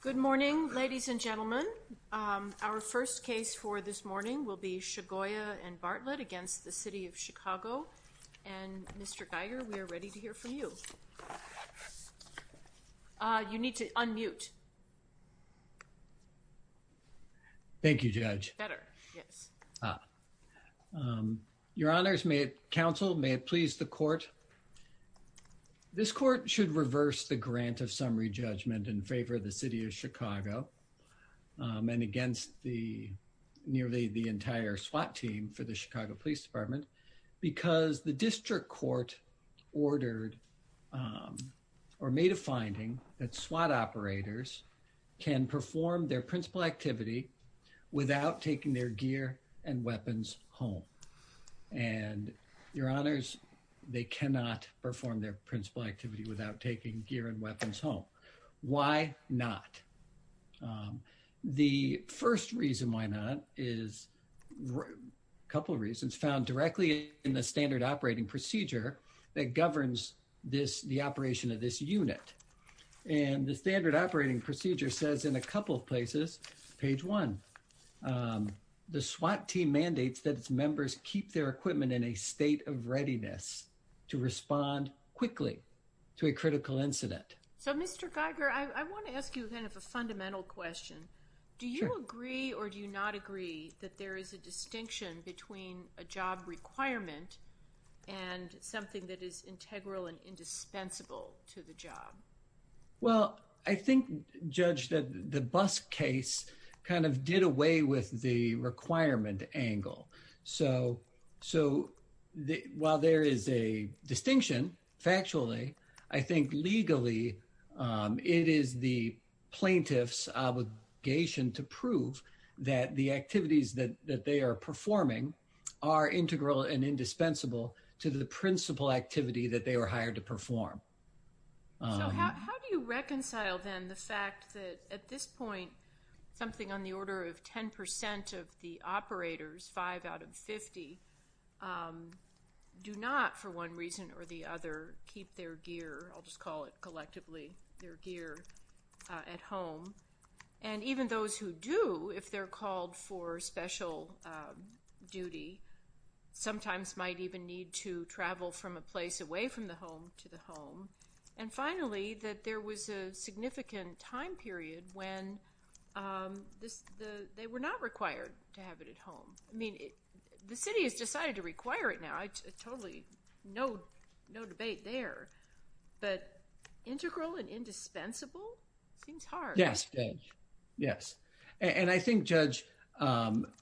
Good morning, ladies and gentlemen. Our first case for this morning will be Chagoya v. Bartlett v. City of Chicago, and Mr. Geiger, we are ready to hear from you. You need to unmute. Thank you, Judge. Your Honors, counsel, may it please the Court. This Court should reverse the grant of summary judgment in favor of the City of Chicago, and against the nearly the entire SWAT team for the Chicago Police Department, because the district court ordered or made a finding that SWAT operators can perform their principal activity without taking their gear and weapons home. And, Your Honors, they cannot perform their principal activity without taking gear and weapons home. Why not? The first reason why not is a couple reasons found directly in the standard operating procedure that governs this, the operation of this unit. And the standard operating procedure says in a couple of places, page one. The SWAT team mandates that its members keep their equipment in a state of readiness to respond quickly to a critical incident. So, Mr. Geiger, I want to ask you kind of a fundamental question. Do you agree or do you not agree that there is a distinction between a job requirement and something that is integral and indispensable to the job? Well, I think, Judge, that the bus case kind of did away with the requirement angle. So, while there is a distinction, factually, I think legally, it is the plaintiff's obligation to prove that the activities that they are performing are integral and indispensable to the principal activity that they were hired to perform. So, how do you reconcile, then, the fact that, at this point, something on the order of 10 percent of the operators, five out of 50, do not, for one reason or the other, keep their gear, I'll just call it collectively, their gear at home? And even those who do, if they're called for special duty, sometimes might even need to travel from a place away from the home to the home. And finally, that there was a significant time period when they were not required to have it at home. I mean, the city has decided to require it now. Totally, no debate there. But integral and indispensable? Seems hard. Yes, Judge. Yes. And I think, Judge,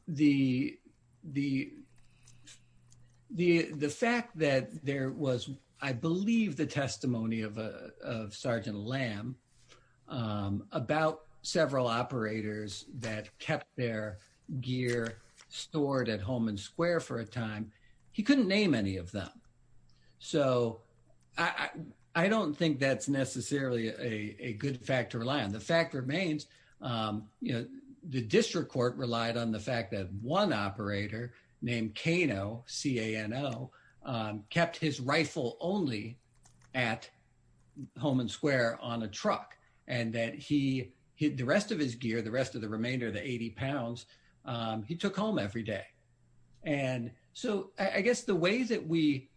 the fact that there was, I believe, the testimony of Sergeant Lamb about several operators that kept their gear stored at Holman Square for a time, he couldn't name any of them. So, I don't think that's necessarily a good fact to rely on. The fact remains, you know, the district court relied on the fact that one operator named Cano, C-A-N-O, kept his rifle only at Holman Square on a truck. And that he, the rest of his gear, the rest of the remainder of the 80 pounds, he took home every day. And so, I guess the ways that we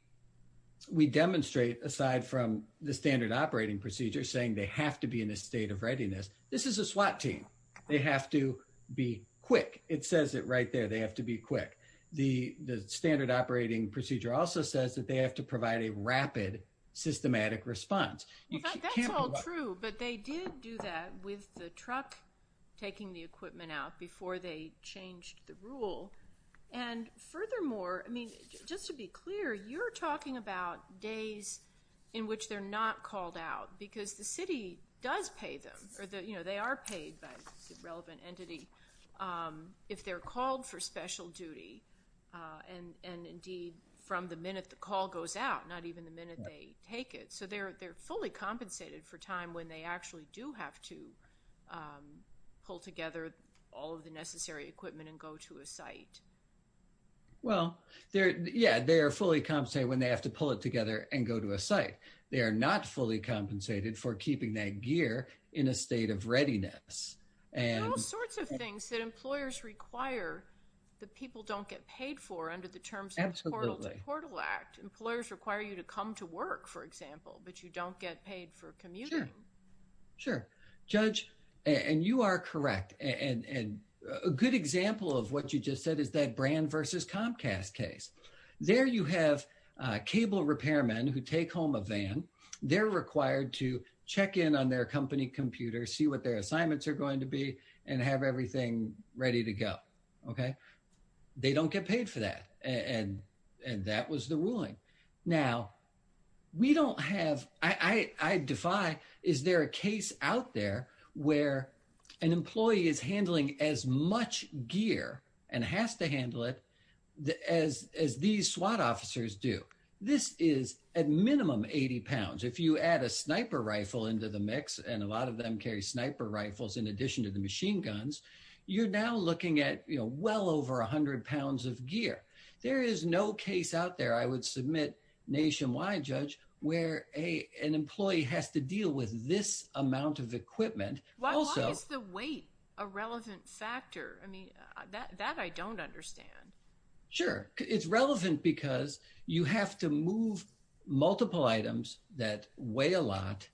demonstrate, aside from the standard operating procedure, saying they have to be in a state of readiness, this is a SWAT team. They have to be quick. It says it right there. They have to be quick. The standard operating procedure also says that they have to provide a rapid, systematic response. In fact, that's all true. But they did do that with the truck taking the equipment out before they changed the rule. And furthermore, I mean, just to be clear, you're talking about days in which they're not called out. Because the city does pay them, or they are paid by a relevant entity, if they're called for special duty. And indeed, from the minute the call goes out, not even the minute they take it. So they're fully compensated for time when they actually do have to pull together all of the necessary equipment and go to a site. Well, yeah, they are fully compensated when they have to pull it together and go to a site. They are not fully compensated for keeping that gear in a state of readiness. There's all sorts of things that employers require that people don't get paid for under the terms of the Portal to Portal Act. Employers require you to come to work, for example, but you don't get paid for commuting. Sure, Judge. And you are correct. And a good example of what you just said is that Brand v. Comcast case. There you have cable repairmen who take home a van. They're required to check in on their company computer, see what their assignments are going to be, and have everything ready to go. Okay? And they don't get paid for that. And that was the ruling. Now, we don't have, I defy, is there a case out there where an employee is handling as much gear and has to handle it as these SWAT officers do? This is at minimum 80 pounds. If you add a sniper rifle into the mix, and a lot of them carry sniper rifles in addition to the machine guns, you're now looking at well over 100 pounds of gear. There is no case out there, I would submit, nationwide, Judge, where an employee has to deal with this amount of equipment. Why is the weight a relevant factor? I mean, that I don't understand. Sure. It's relevant because you have to move multiple items that weigh a lot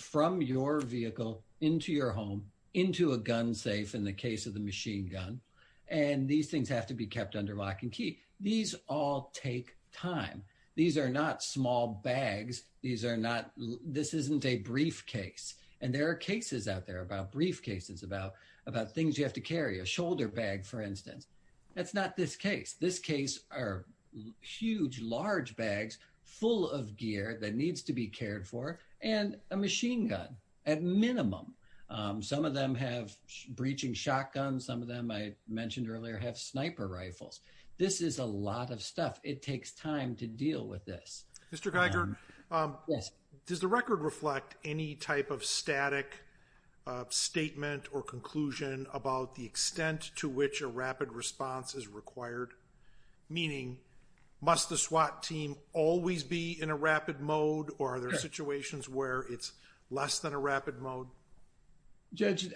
from your vehicle into your home, into a gun safe, in the case of the machine gun. And these things have to be kept under lock and key. These all take time. These are not small bags. These are not, this isn't a briefcase. And there are cases out there about briefcases, about things you have to carry, a shoulder bag, for instance. That's not this case. This case are huge, large bags full of gear that needs to be cared for, and a machine gun, at minimum. Some of them have breaching shotguns. Some of them, I mentioned earlier, have sniper rifles. This is a lot of stuff. It takes time to deal with this. Mr. Geiger, does the record reflect any type of static statement or conclusion about the extent to which a rapid response is required? Meaning, must the SWAT team always be in a rapid mode, or are there situations where it's less than a rapid mode? Judge,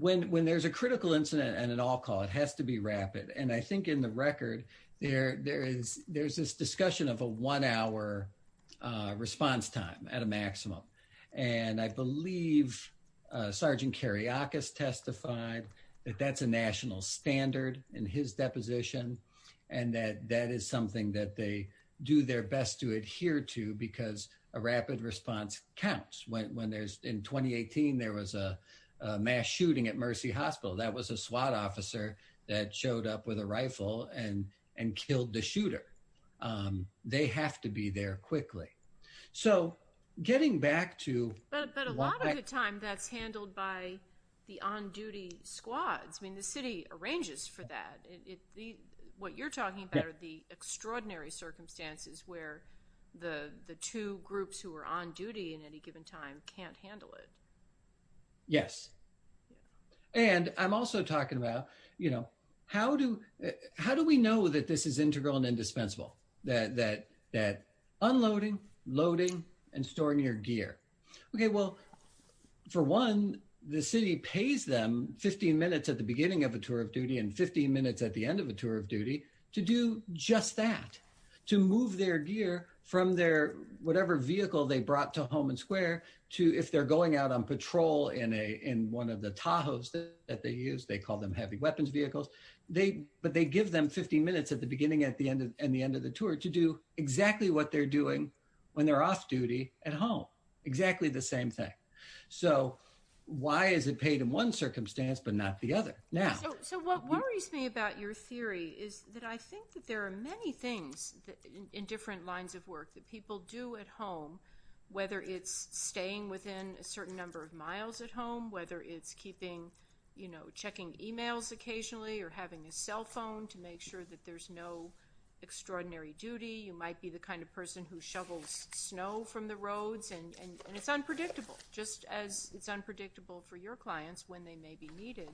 when there's a critical incident and an all-call, it has to be rapid. And I think in the record, there's this discussion of a one-hour response time at a maximum. And I believe Sergeant Kariakis testified that that's a national standard in his deposition, and that that is something that they do their best to adhere to because a rapid response counts. In 2018, there was a mass shooting at Mercy Hospital. That was a SWAT officer that showed up with a rifle and killed the shooter. They have to be there quickly. But a lot of the time, that's handled by the on-duty squads. I mean, the city arranges for that. What you're talking about are the extraordinary circumstances where the two groups who are on duty in any given time can't handle it. Yes. And I'm also talking about, you know, how do we know that this is integral and indispensable, that unloading, loading, and storing your gear? Okay, well, for one, the city pays them 15 minutes at the beginning of a tour of duty and 15 minutes at the end of a tour of duty to do just that, to move their gear from their whatever vehicle they brought to Home and Square to if they're going out on patrol in one of the Tahoes that they use, they call them heavy weapons vehicles. But they give them 15 minutes at the beginning and the end of the tour to do exactly what they're doing when they're off duty at home, exactly the same thing. So why is it paid in one circumstance but not the other? So what worries me about your theory is that I think that there are many things in different lines of work that people do at home, whether it's staying within a certain number of miles at home, whether it's keeping, you know, checking e-mails occasionally or having a cell phone to make sure that there's no extraordinary duty. You might be the kind of person who shovels snow from the roads and it's unpredictable, just as it's unpredictable for your clients when they may be needed.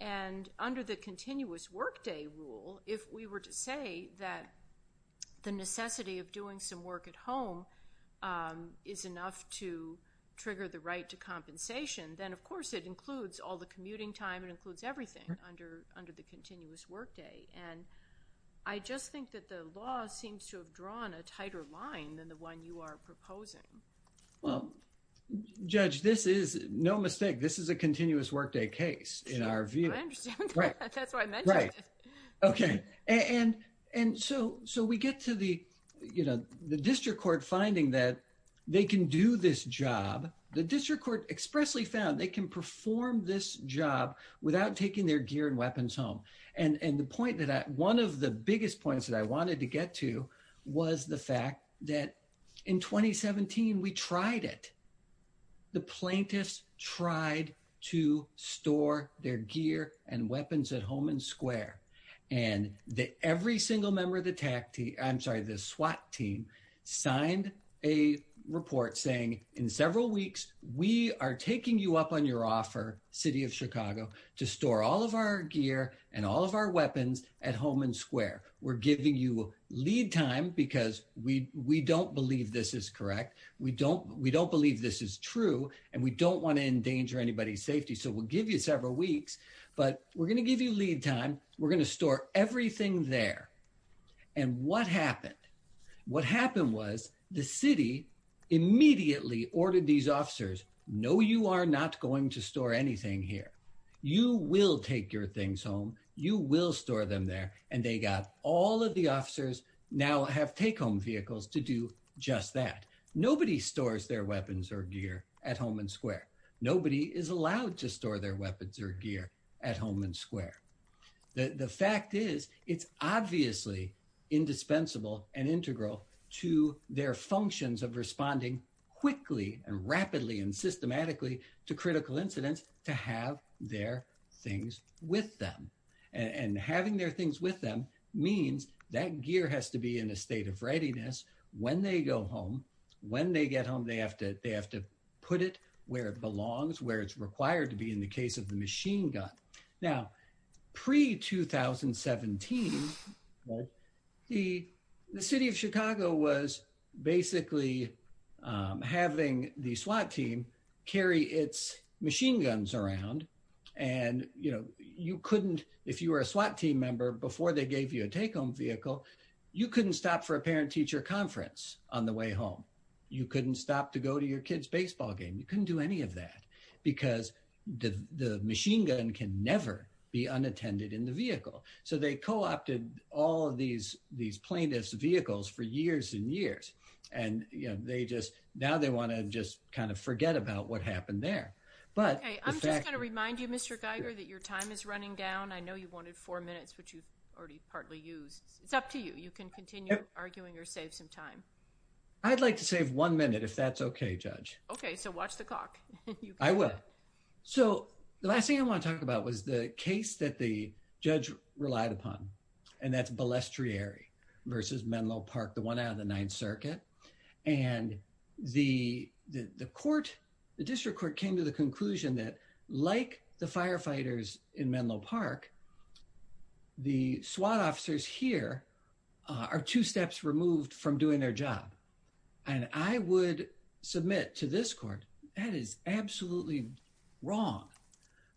And under the continuous workday rule, if we were to say that the necessity of doing some work at home is enough to trigger the right to compensation, then of course it includes all the commuting time. It includes everything under the continuous workday. And I just think that the law seems to have drawn a tighter line than the one you are proposing. Well, Judge, this is, no mistake, this is a continuous workday case in our view. I understand that. That's why I mentioned it. Right. Okay. And so we get to the, you know, the district court finding that they can do this job. The district court expressly found they can perform this job without taking their gear and weapons home. And the point that one of the biggest points that I wanted to get to was the fact that in 2017 we tried it. The plaintiffs tried to store their gear and weapons at home and square. And every single member of the SWAT team signed a report saying in several weeks we are taking you up on your offer, City of Chicago, to store all of our gear and all of our weapons at home and square. We're giving you lead time because we don't believe this is correct. We don't believe this is true. And we don't want to endanger anybody's safety. So we'll give you several weeks. But we're going to give you lead time. We're going to store everything there. And what happened? What happened was the city immediately ordered these officers, no, you are not going to store anything here. You will take your things home. You will store them there. And they got all of the officers now have take-home vehicles to do just that. Nobody stores their weapons or gear at home and square. Nobody is allowed to store their weapons or gear at home and square. The fact is it's obviously indispensable and integral to their functions of responding quickly and rapidly and systematically to critical incidents to have their things with them. And having their things with them means that gear has to be in a state of readiness when they go home. When they get home, they have to put it where it belongs, where it's required to be in the case of the machine gun. Now, pre-2017, the city of Chicago was basically having the SWAT team carry its machine guns around. And you couldn't, if you were a SWAT team member, before they gave you a take-home vehicle, you couldn't stop for a parent-teacher conference on the way home. You couldn't stop to go to your kid's baseball game. You couldn't do any of that. Because the machine gun can never be unattended in the vehicle. So they co-opted all of these plaintiffs' vehicles for years and years. And they just, now they want to just kind of forget about what happened there. Okay, I'm just going to remind you, Mr. Geiger, that your time is running down. I know you wanted four minutes, which you've already partly used. It's up to you. You can continue arguing or save some time. I'd like to save one minute, if that's okay, Judge. Okay, so watch the clock. I will. So the last thing I want to talk about was the case that the judge relied upon. And that's Balestrieri v. Menlo Park, the one out of the Ninth Circuit. And the district court came to the conclusion that, like the firefighters in Menlo Park, the SWAT officers here are two steps removed from doing their job. And I would submit to this court, that is absolutely wrong.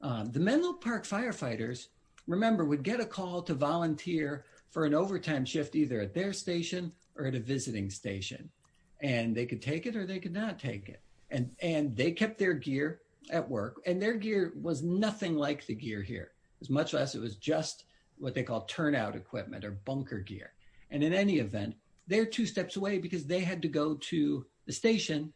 The Menlo Park firefighters, remember, would get a call to volunteer for an overtime shift either at their station or at a visiting station. And they could take it or they could not take it. And they kept their gear at work. And their gear was nothing like the gear here, as much as it was just what they call turnout equipment or bunker gear. And in any event, they're two steps away because they had to go to the station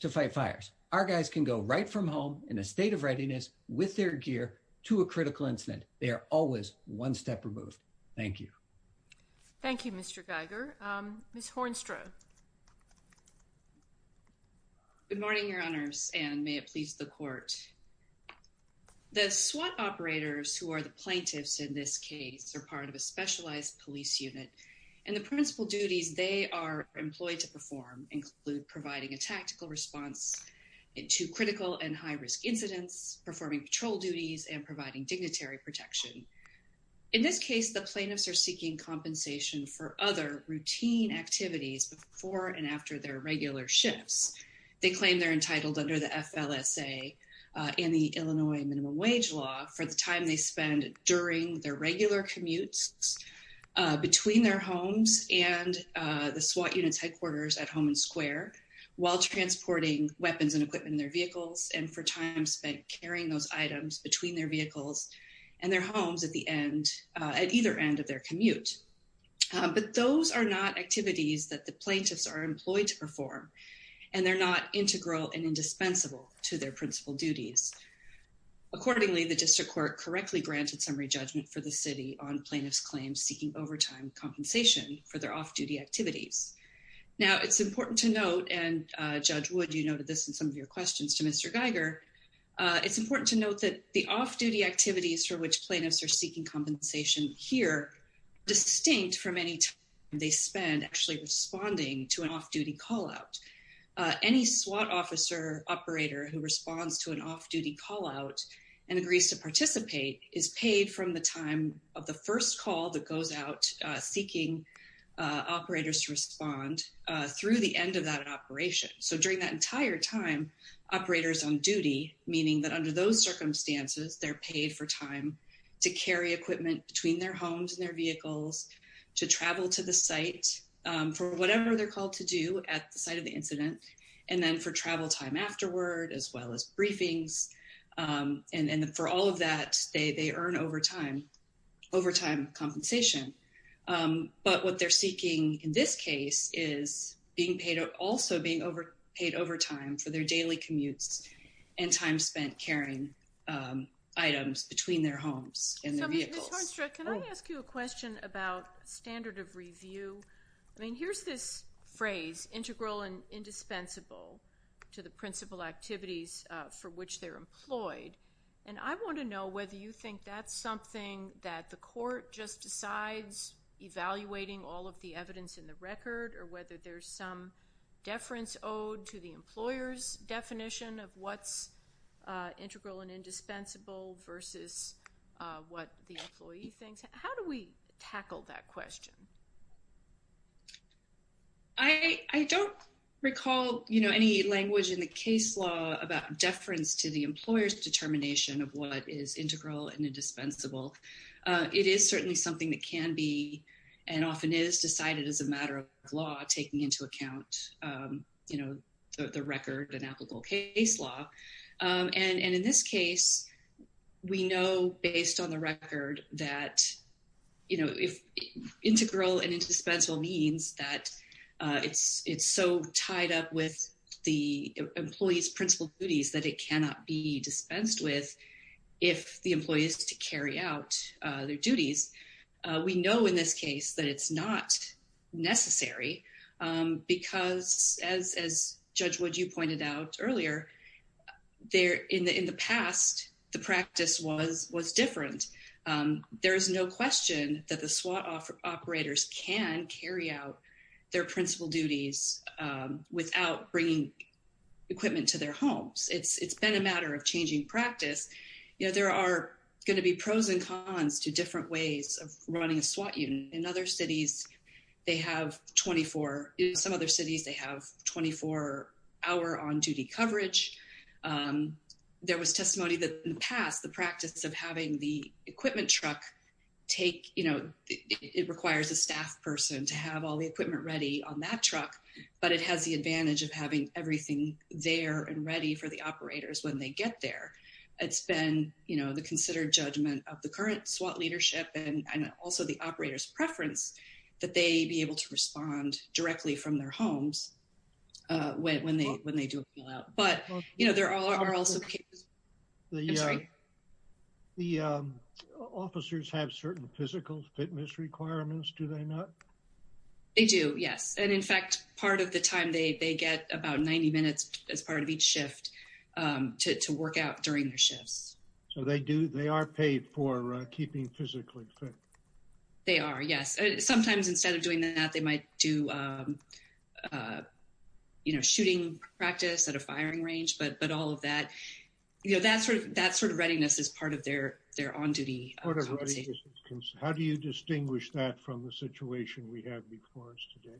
to fight fires. Our guys can go right from home in a state of readiness with their gear to a critical incident. They are always one step removed. Thank you. Thank you, Mr. Geiger. Ms. Hornstra. Good morning, Your Honors, and may it please the court. The SWAT operators, who are the plaintiffs in this case, are part of a specialized police unit. And the principal duties they are employed to perform include providing a tactical response to critical and high-risk incidents, performing patrol duties, and providing dignitary protection. In this case, the plaintiffs are seeking compensation for other routine activities before and after their regular shifts. They claim they're entitled under the FLSA and the Illinois minimum wage law for the time they spend during their regular commutes between their homes and the SWAT unit's headquarters at Homan Square while transporting weapons and equipment in their vehicles and for time spent carrying those items between their vehicles and their homes at either end of their commute. But those are not activities that the plaintiffs are employed to perform, and they're not integral and indispensable to their principal duties. Accordingly, the district court correctly granted summary judgment for the city on plaintiffs' claims seeking overtime compensation for their off-duty activities. Now, it's important to note, and Judge Wood, you noted this in some of your questions to Mr. Geiger, it's important to note that the off-duty activities for which plaintiffs are seeking compensation here are distinct from any time they spend actually responding to an off-duty call-out. Any SWAT officer operator who responds to an off-duty call-out and agrees to participate is paid from the time of the first call that goes out seeking operators to respond through the end of that operation. So during that entire time, operators on duty, meaning that under those circumstances, they're paid for time to carry equipment between their homes and their vehicles, to travel to the site for whatever they're called to do at the site of the incident, and then for travel time afterward, as well as briefings. And for all of that, they earn overtime compensation. But what they're seeking in this case is also being paid overtime for their daily commutes and time spent carrying items between their homes and their vehicles. Ms. Hornstrad, can I ask you a question about standard of review? I mean, here's this phrase, integral and indispensable, to the principal activities for which they're employed. And I want to know whether you think that's something that the court just decides, evaluating all of the evidence in the record, or whether there's some deference owed to the employer's definition of what's integral and indispensable versus what the employee thinks. How do we tackle that question? I don't recall any language in the case law about deference to the employer's determination of what is integral and indispensable. It is certainly something that can be and often is decided as a matter of law, taking into account the record and applicable case law. And in this case, we know based on the record that integral and indispensable means that it's so tied up with the employee's principal duties that it cannot be dispensed with if the employee is to carry out their duties. We know in this case that it's not necessary because, as Judge Wood, you pointed out earlier, in the past, the practice was different. There is no question that the SWAT operators can carry out their principal duties without bringing equipment to their homes. It's been a matter of changing practice. There are going to be pros and cons to different ways of running a SWAT unit. In some other cities, they have 24-hour on-duty coverage. There was testimony that, in the past, the practice of having the equipment truck take — it requires a staff person to have all the equipment ready on that truck, but it has the advantage of having everything there and ready for the operators when they get there. It's been the considered judgment of the current SWAT leadership and also the operators' preference that they be able to respond directly from their homes when they do a pullout. But there are also cases — I'm sorry? The officers have certain physical fitness requirements, do they not? They do, yes. And, in fact, part of the time, they get about 90 minutes as part of each shift to work out during their shifts. So they are paid for keeping physically fit? They are, yes. Sometimes, instead of doing that, they might do shooting practice at a firing range, but all of that — that sort of readiness is part of their on-duty compensation. How do you distinguish that from the situation we have before us today?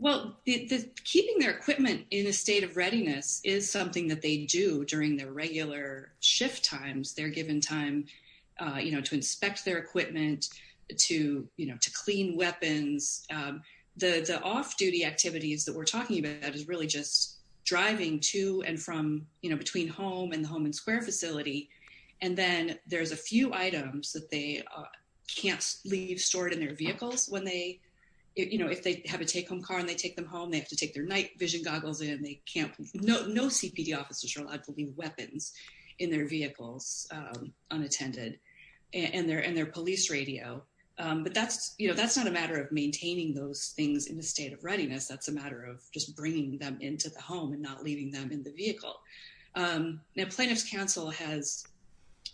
Well, keeping their equipment in a state of readiness is something that they do during their regular shift times. They're given time to inspect their equipment, to clean weapons. The off-duty activities that we're talking about is really just driving to and from — and then there's a few items that they can't leave stored in their vehicles when they — if they have a take-home car and they take them home, they have to take their night-vision goggles in. They can't — no CPD officers are allowed to leave weapons in their vehicles unattended and their police radio. But that's not a matter of maintaining those things in a state of readiness. That's a matter of just bringing them into the home and not leaving them in the vehicle. Now, Plaintiff's Council has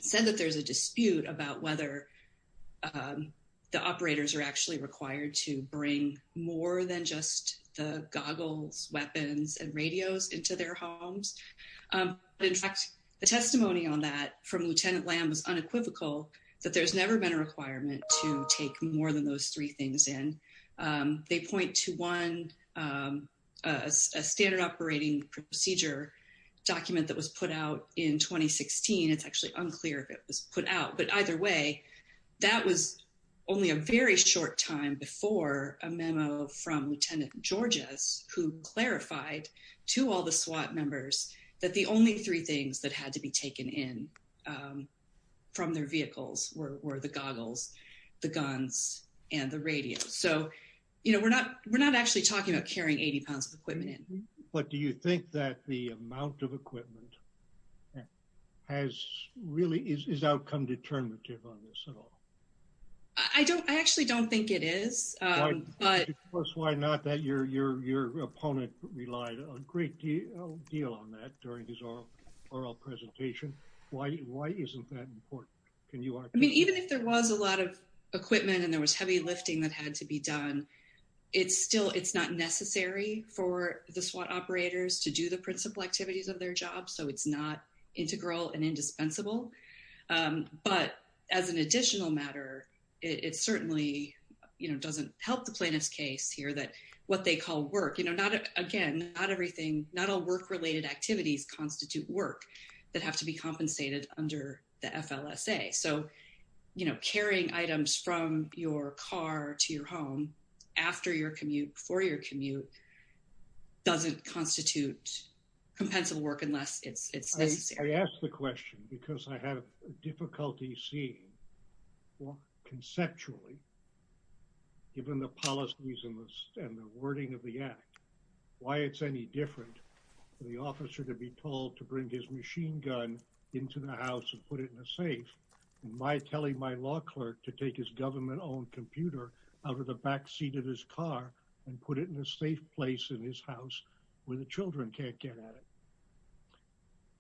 said that there's a dispute about whether the operators are actually required to bring more than just the goggles, weapons and radios into their homes. In fact, the testimony on that from Lieutenant Lamb is unequivocal that there's never been a requirement to take more than those three things in. They point to, one, a standard operating procedure document that was put out in 2016. It's actually unclear if it was put out. But either way, that was only a very short time before a memo from Lieutenant Georges, who clarified to all the SWAT members that the only three things that had to be taken in from their vehicles were the goggles, the guns and the radio. So, you know, we're not actually talking about carrying 80 pounds of equipment in. But do you think that the amount of equipment has really — is outcome determinative on this at all? I don't — I actually don't think it is, but — Plus, why not? That your opponent relied a great deal on that during his oral presentation. Why isn't that important? I mean, even if there was a lot of equipment and there was heavy lifting that had to be done, it's still — it's not necessary for the SWAT operators to do the principal activities of their job, so it's not integral and indispensable. But as an additional matter, it certainly, you know, doesn't help the plaintiff's case here that what they call work — you know, again, not everything — not all work-related activities constitute work that have to be compensated under the FLSA. So, you know, carrying items from your car to your home after your commute, before your commute, doesn't constitute compensable work unless it's necessary. I ask the question because I have difficulty seeing conceptually, given the policies and the wording of the act, why it's any different for the officer to be told to bring his machine gun into the house and put it in a safe than my telling my law clerk to take his government-owned computer out of the backseat of his car and put it in a safe place in his house where the children can't get at it.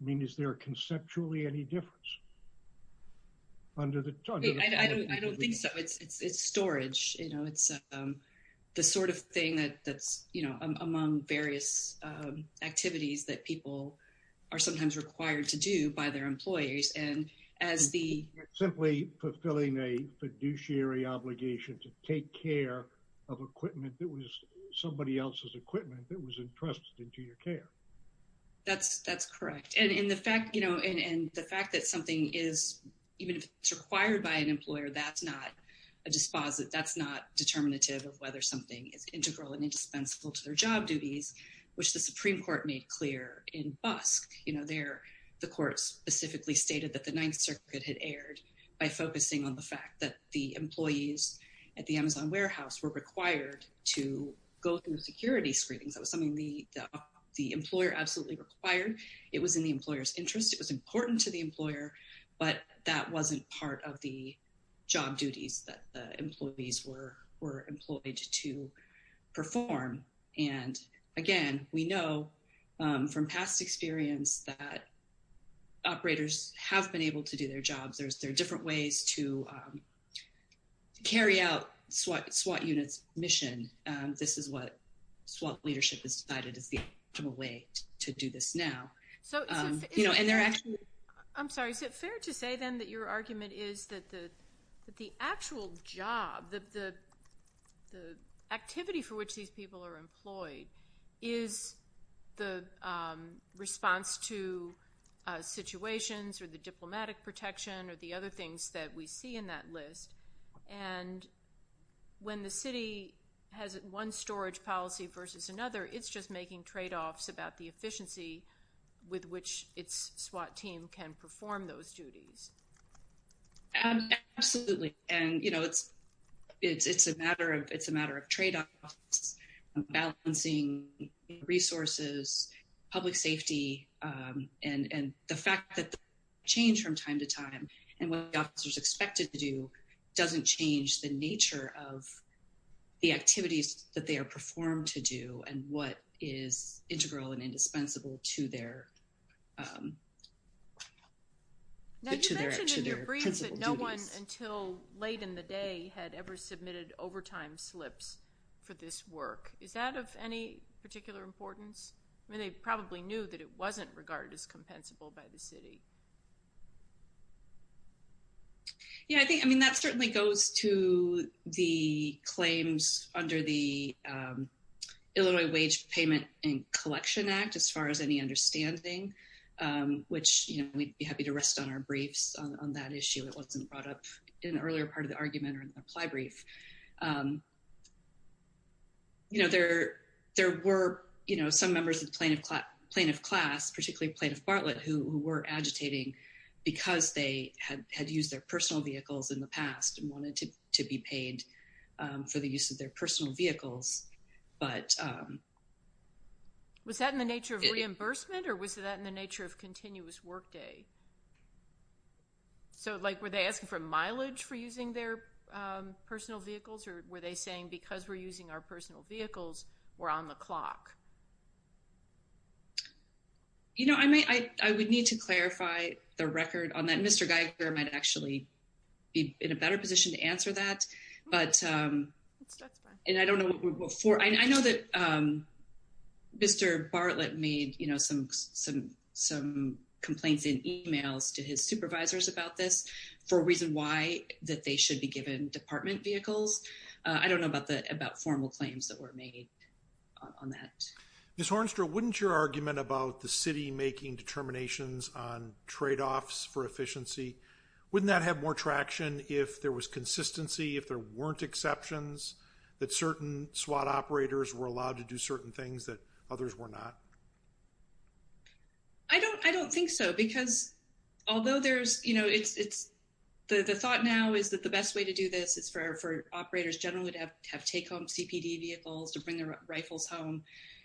I mean, is there conceptually any difference under the — I don't think so. It's storage. You know, it's the sort of thing that's, you know, among various activities that people are sometimes required to do by their employees. And as the — Simply fulfilling a fiduciary obligation to take care of equipment that was somebody else's equipment that was entrusted into your care. That's correct. And in the fact — you know, and the fact that something is — even if it's required by an employer, that's not a disposit — that's not determinative of whether something is integral and indispensable to their job duties, which the Supreme Court made clear in Busk. You know, there, the court specifically stated that the Ninth Circuit had erred by focusing on the fact that the employees at the Amazon warehouse were required to go through security screenings. That was something the employer absolutely required. It was in the employer's interest. It was important to the employer, but that wasn't part of the job duties that the employees were employed to perform. And again, we know from past experience that operators have been able to do their jobs. There are different ways to carry out SWAT units' mission. This is what SWAT leadership has decided is the optimal way to do this now. So — You know, and there actually — I'm sorry. Is it fair to say, then, that your argument is that the actual job, the activity for which these people are employed, is the response to situations or the diplomatic protection or the other things that we see in that list? And when the city has one storage policy versus another, it's just making tradeoffs about the efficiency with which its SWAT team can perform those duties. Absolutely. And, you know, it's a matter of tradeoffs, balancing resources, public safety, and the fact that the change from time to time and what the officers expect to do doesn't change the nature of the activities that they are performed to do and what is integral and indispensable to their — Now, you mentioned in your brief that no one until late in the day had ever submitted overtime slips for this work. Is that of any particular importance? I mean, they probably knew that it wasn't regarded as compensable by the city. Yeah, I think — I mean, that certainly goes to the claims under the Illinois Wage Payment and Collection Act, as far as any understanding. Which, you know, we'd be happy to rest on our briefs on that issue. It wasn't brought up in an earlier part of the argument or in the ply brief. You know, there were, you know, some members of the plaintiff class, particularly Plaintiff Bartlett, who were agitating because they had used their personal vehicles in the past and wanted to be paid for the use of their personal vehicles. Was that in the nature of reimbursement, or was that in the nature of continuous workday? So, like, were they asking for mileage for using their personal vehicles, or were they saying, because we're using our personal vehicles, we're on the clock? You know, I would need to clarify the record on that. I think Mr. Geiger might actually be in a better position to answer that, but — And I don't know what — I know that Mr. Bartlett made, you know, some complaints in emails to his supervisors about this for a reason why, that they should be given department vehicles. I don't know about formal claims that were made on that. Ms. Hornstra, wouldn't your argument about the city making determinations on tradeoffs for efficiency, wouldn't that have more traction if there was consistency, if there weren't exceptions, that certain SWAT operators were allowed to do certain things that others were not? I don't think so, because although there's — you know, it's — the thought now is that the best way to do this is for operators generally to have take-home CPD vehicles, to bring their rifles home.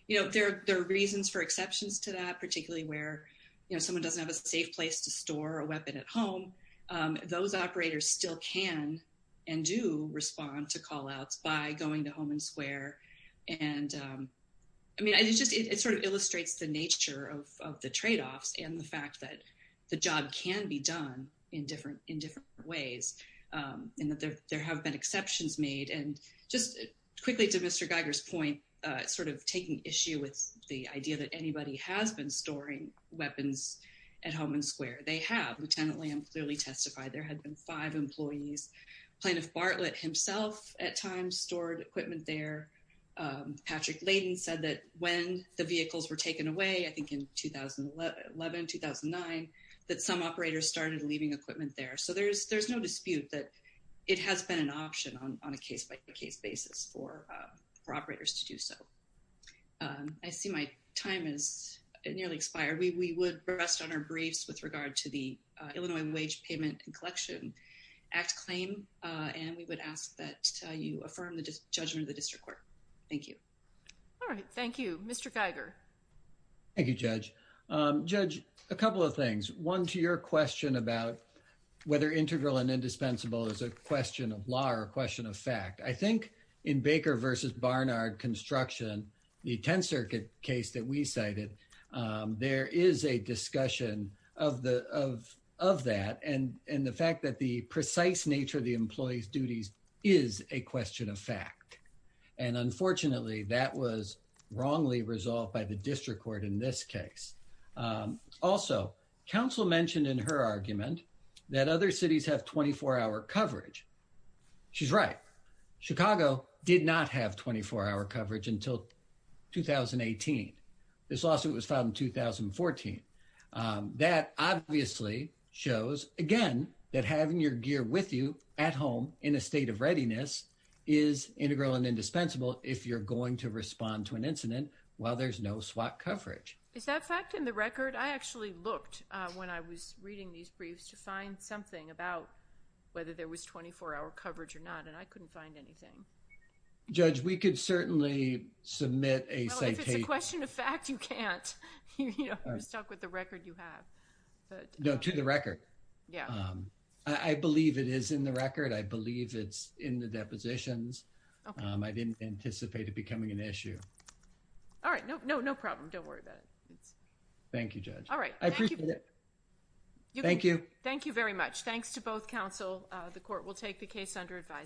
You know, there are reasons for exceptions to that, particularly where, you know, someone doesn't have a safe place to store a weapon at home. Those operators still can and do respond to call-outs by going to Home and Square. And, I mean, it just — it sort of illustrates the nature of the tradeoffs and the fact that the job can be done in different ways, and that there have been exceptions made. And just quickly to Mr. Geiger's point, sort of taking issue with the idea that anybody has been storing weapons at Home and Square, they have. Lieutenant Liam clearly testified there had been five employees. Plaintiff Bartlett himself at times stored equipment there. Patrick Layden said that when the vehicles were taken away, I think in 2011, 2009, that some operators started leaving equipment there. So there's no dispute that it has been an option on a case-by-case basis for operators to do so. I see my time has nearly expired. We would rest on our briefs with regard to the Illinois Wage Payment and Collection Act claim, and we would ask that you affirm the judgment of the district court. Thank you. All right. Thank you. Mr. Geiger. Thank you, Judge. Judge, a couple of things. One, to your question about whether integral and indispensable is a question of law or a question of fact. I think in Baker v. Barnard construction, the 10th Circuit case that we cited, there is a discussion of that and the fact that the precise nature of the employee's duties is a question of fact. And unfortunately, that was wrongly resolved by the district court in this case. Also, counsel mentioned in her argument that other cities have 24-hour coverage. She's right. Chicago did not have 24-hour coverage until 2018. This lawsuit was filed in 2014. That obviously shows, again, that having your gear with you at home in a state of readiness is integral and indispensable if you're going to respond to an incident while there's no SWOT coverage. Is that fact in the record? I actually looked when I was reading these briefs to find something about whether there was 24-hour coverage or not, and I couldn't find anything. Judge, we could certainly submit a citation. If it's a question of fact, you can't. You're stuck with the record you have. No, to the record. I believe it is in the record. I believe it's in the depositions. I didn't anticipate it becoming an issue. All right. No problem. Don't worry about it. Thank you, Judge. All right. I appreciate it. Thank you. Thank you very much. Thanks to both counsel. The court will take the case under advisory.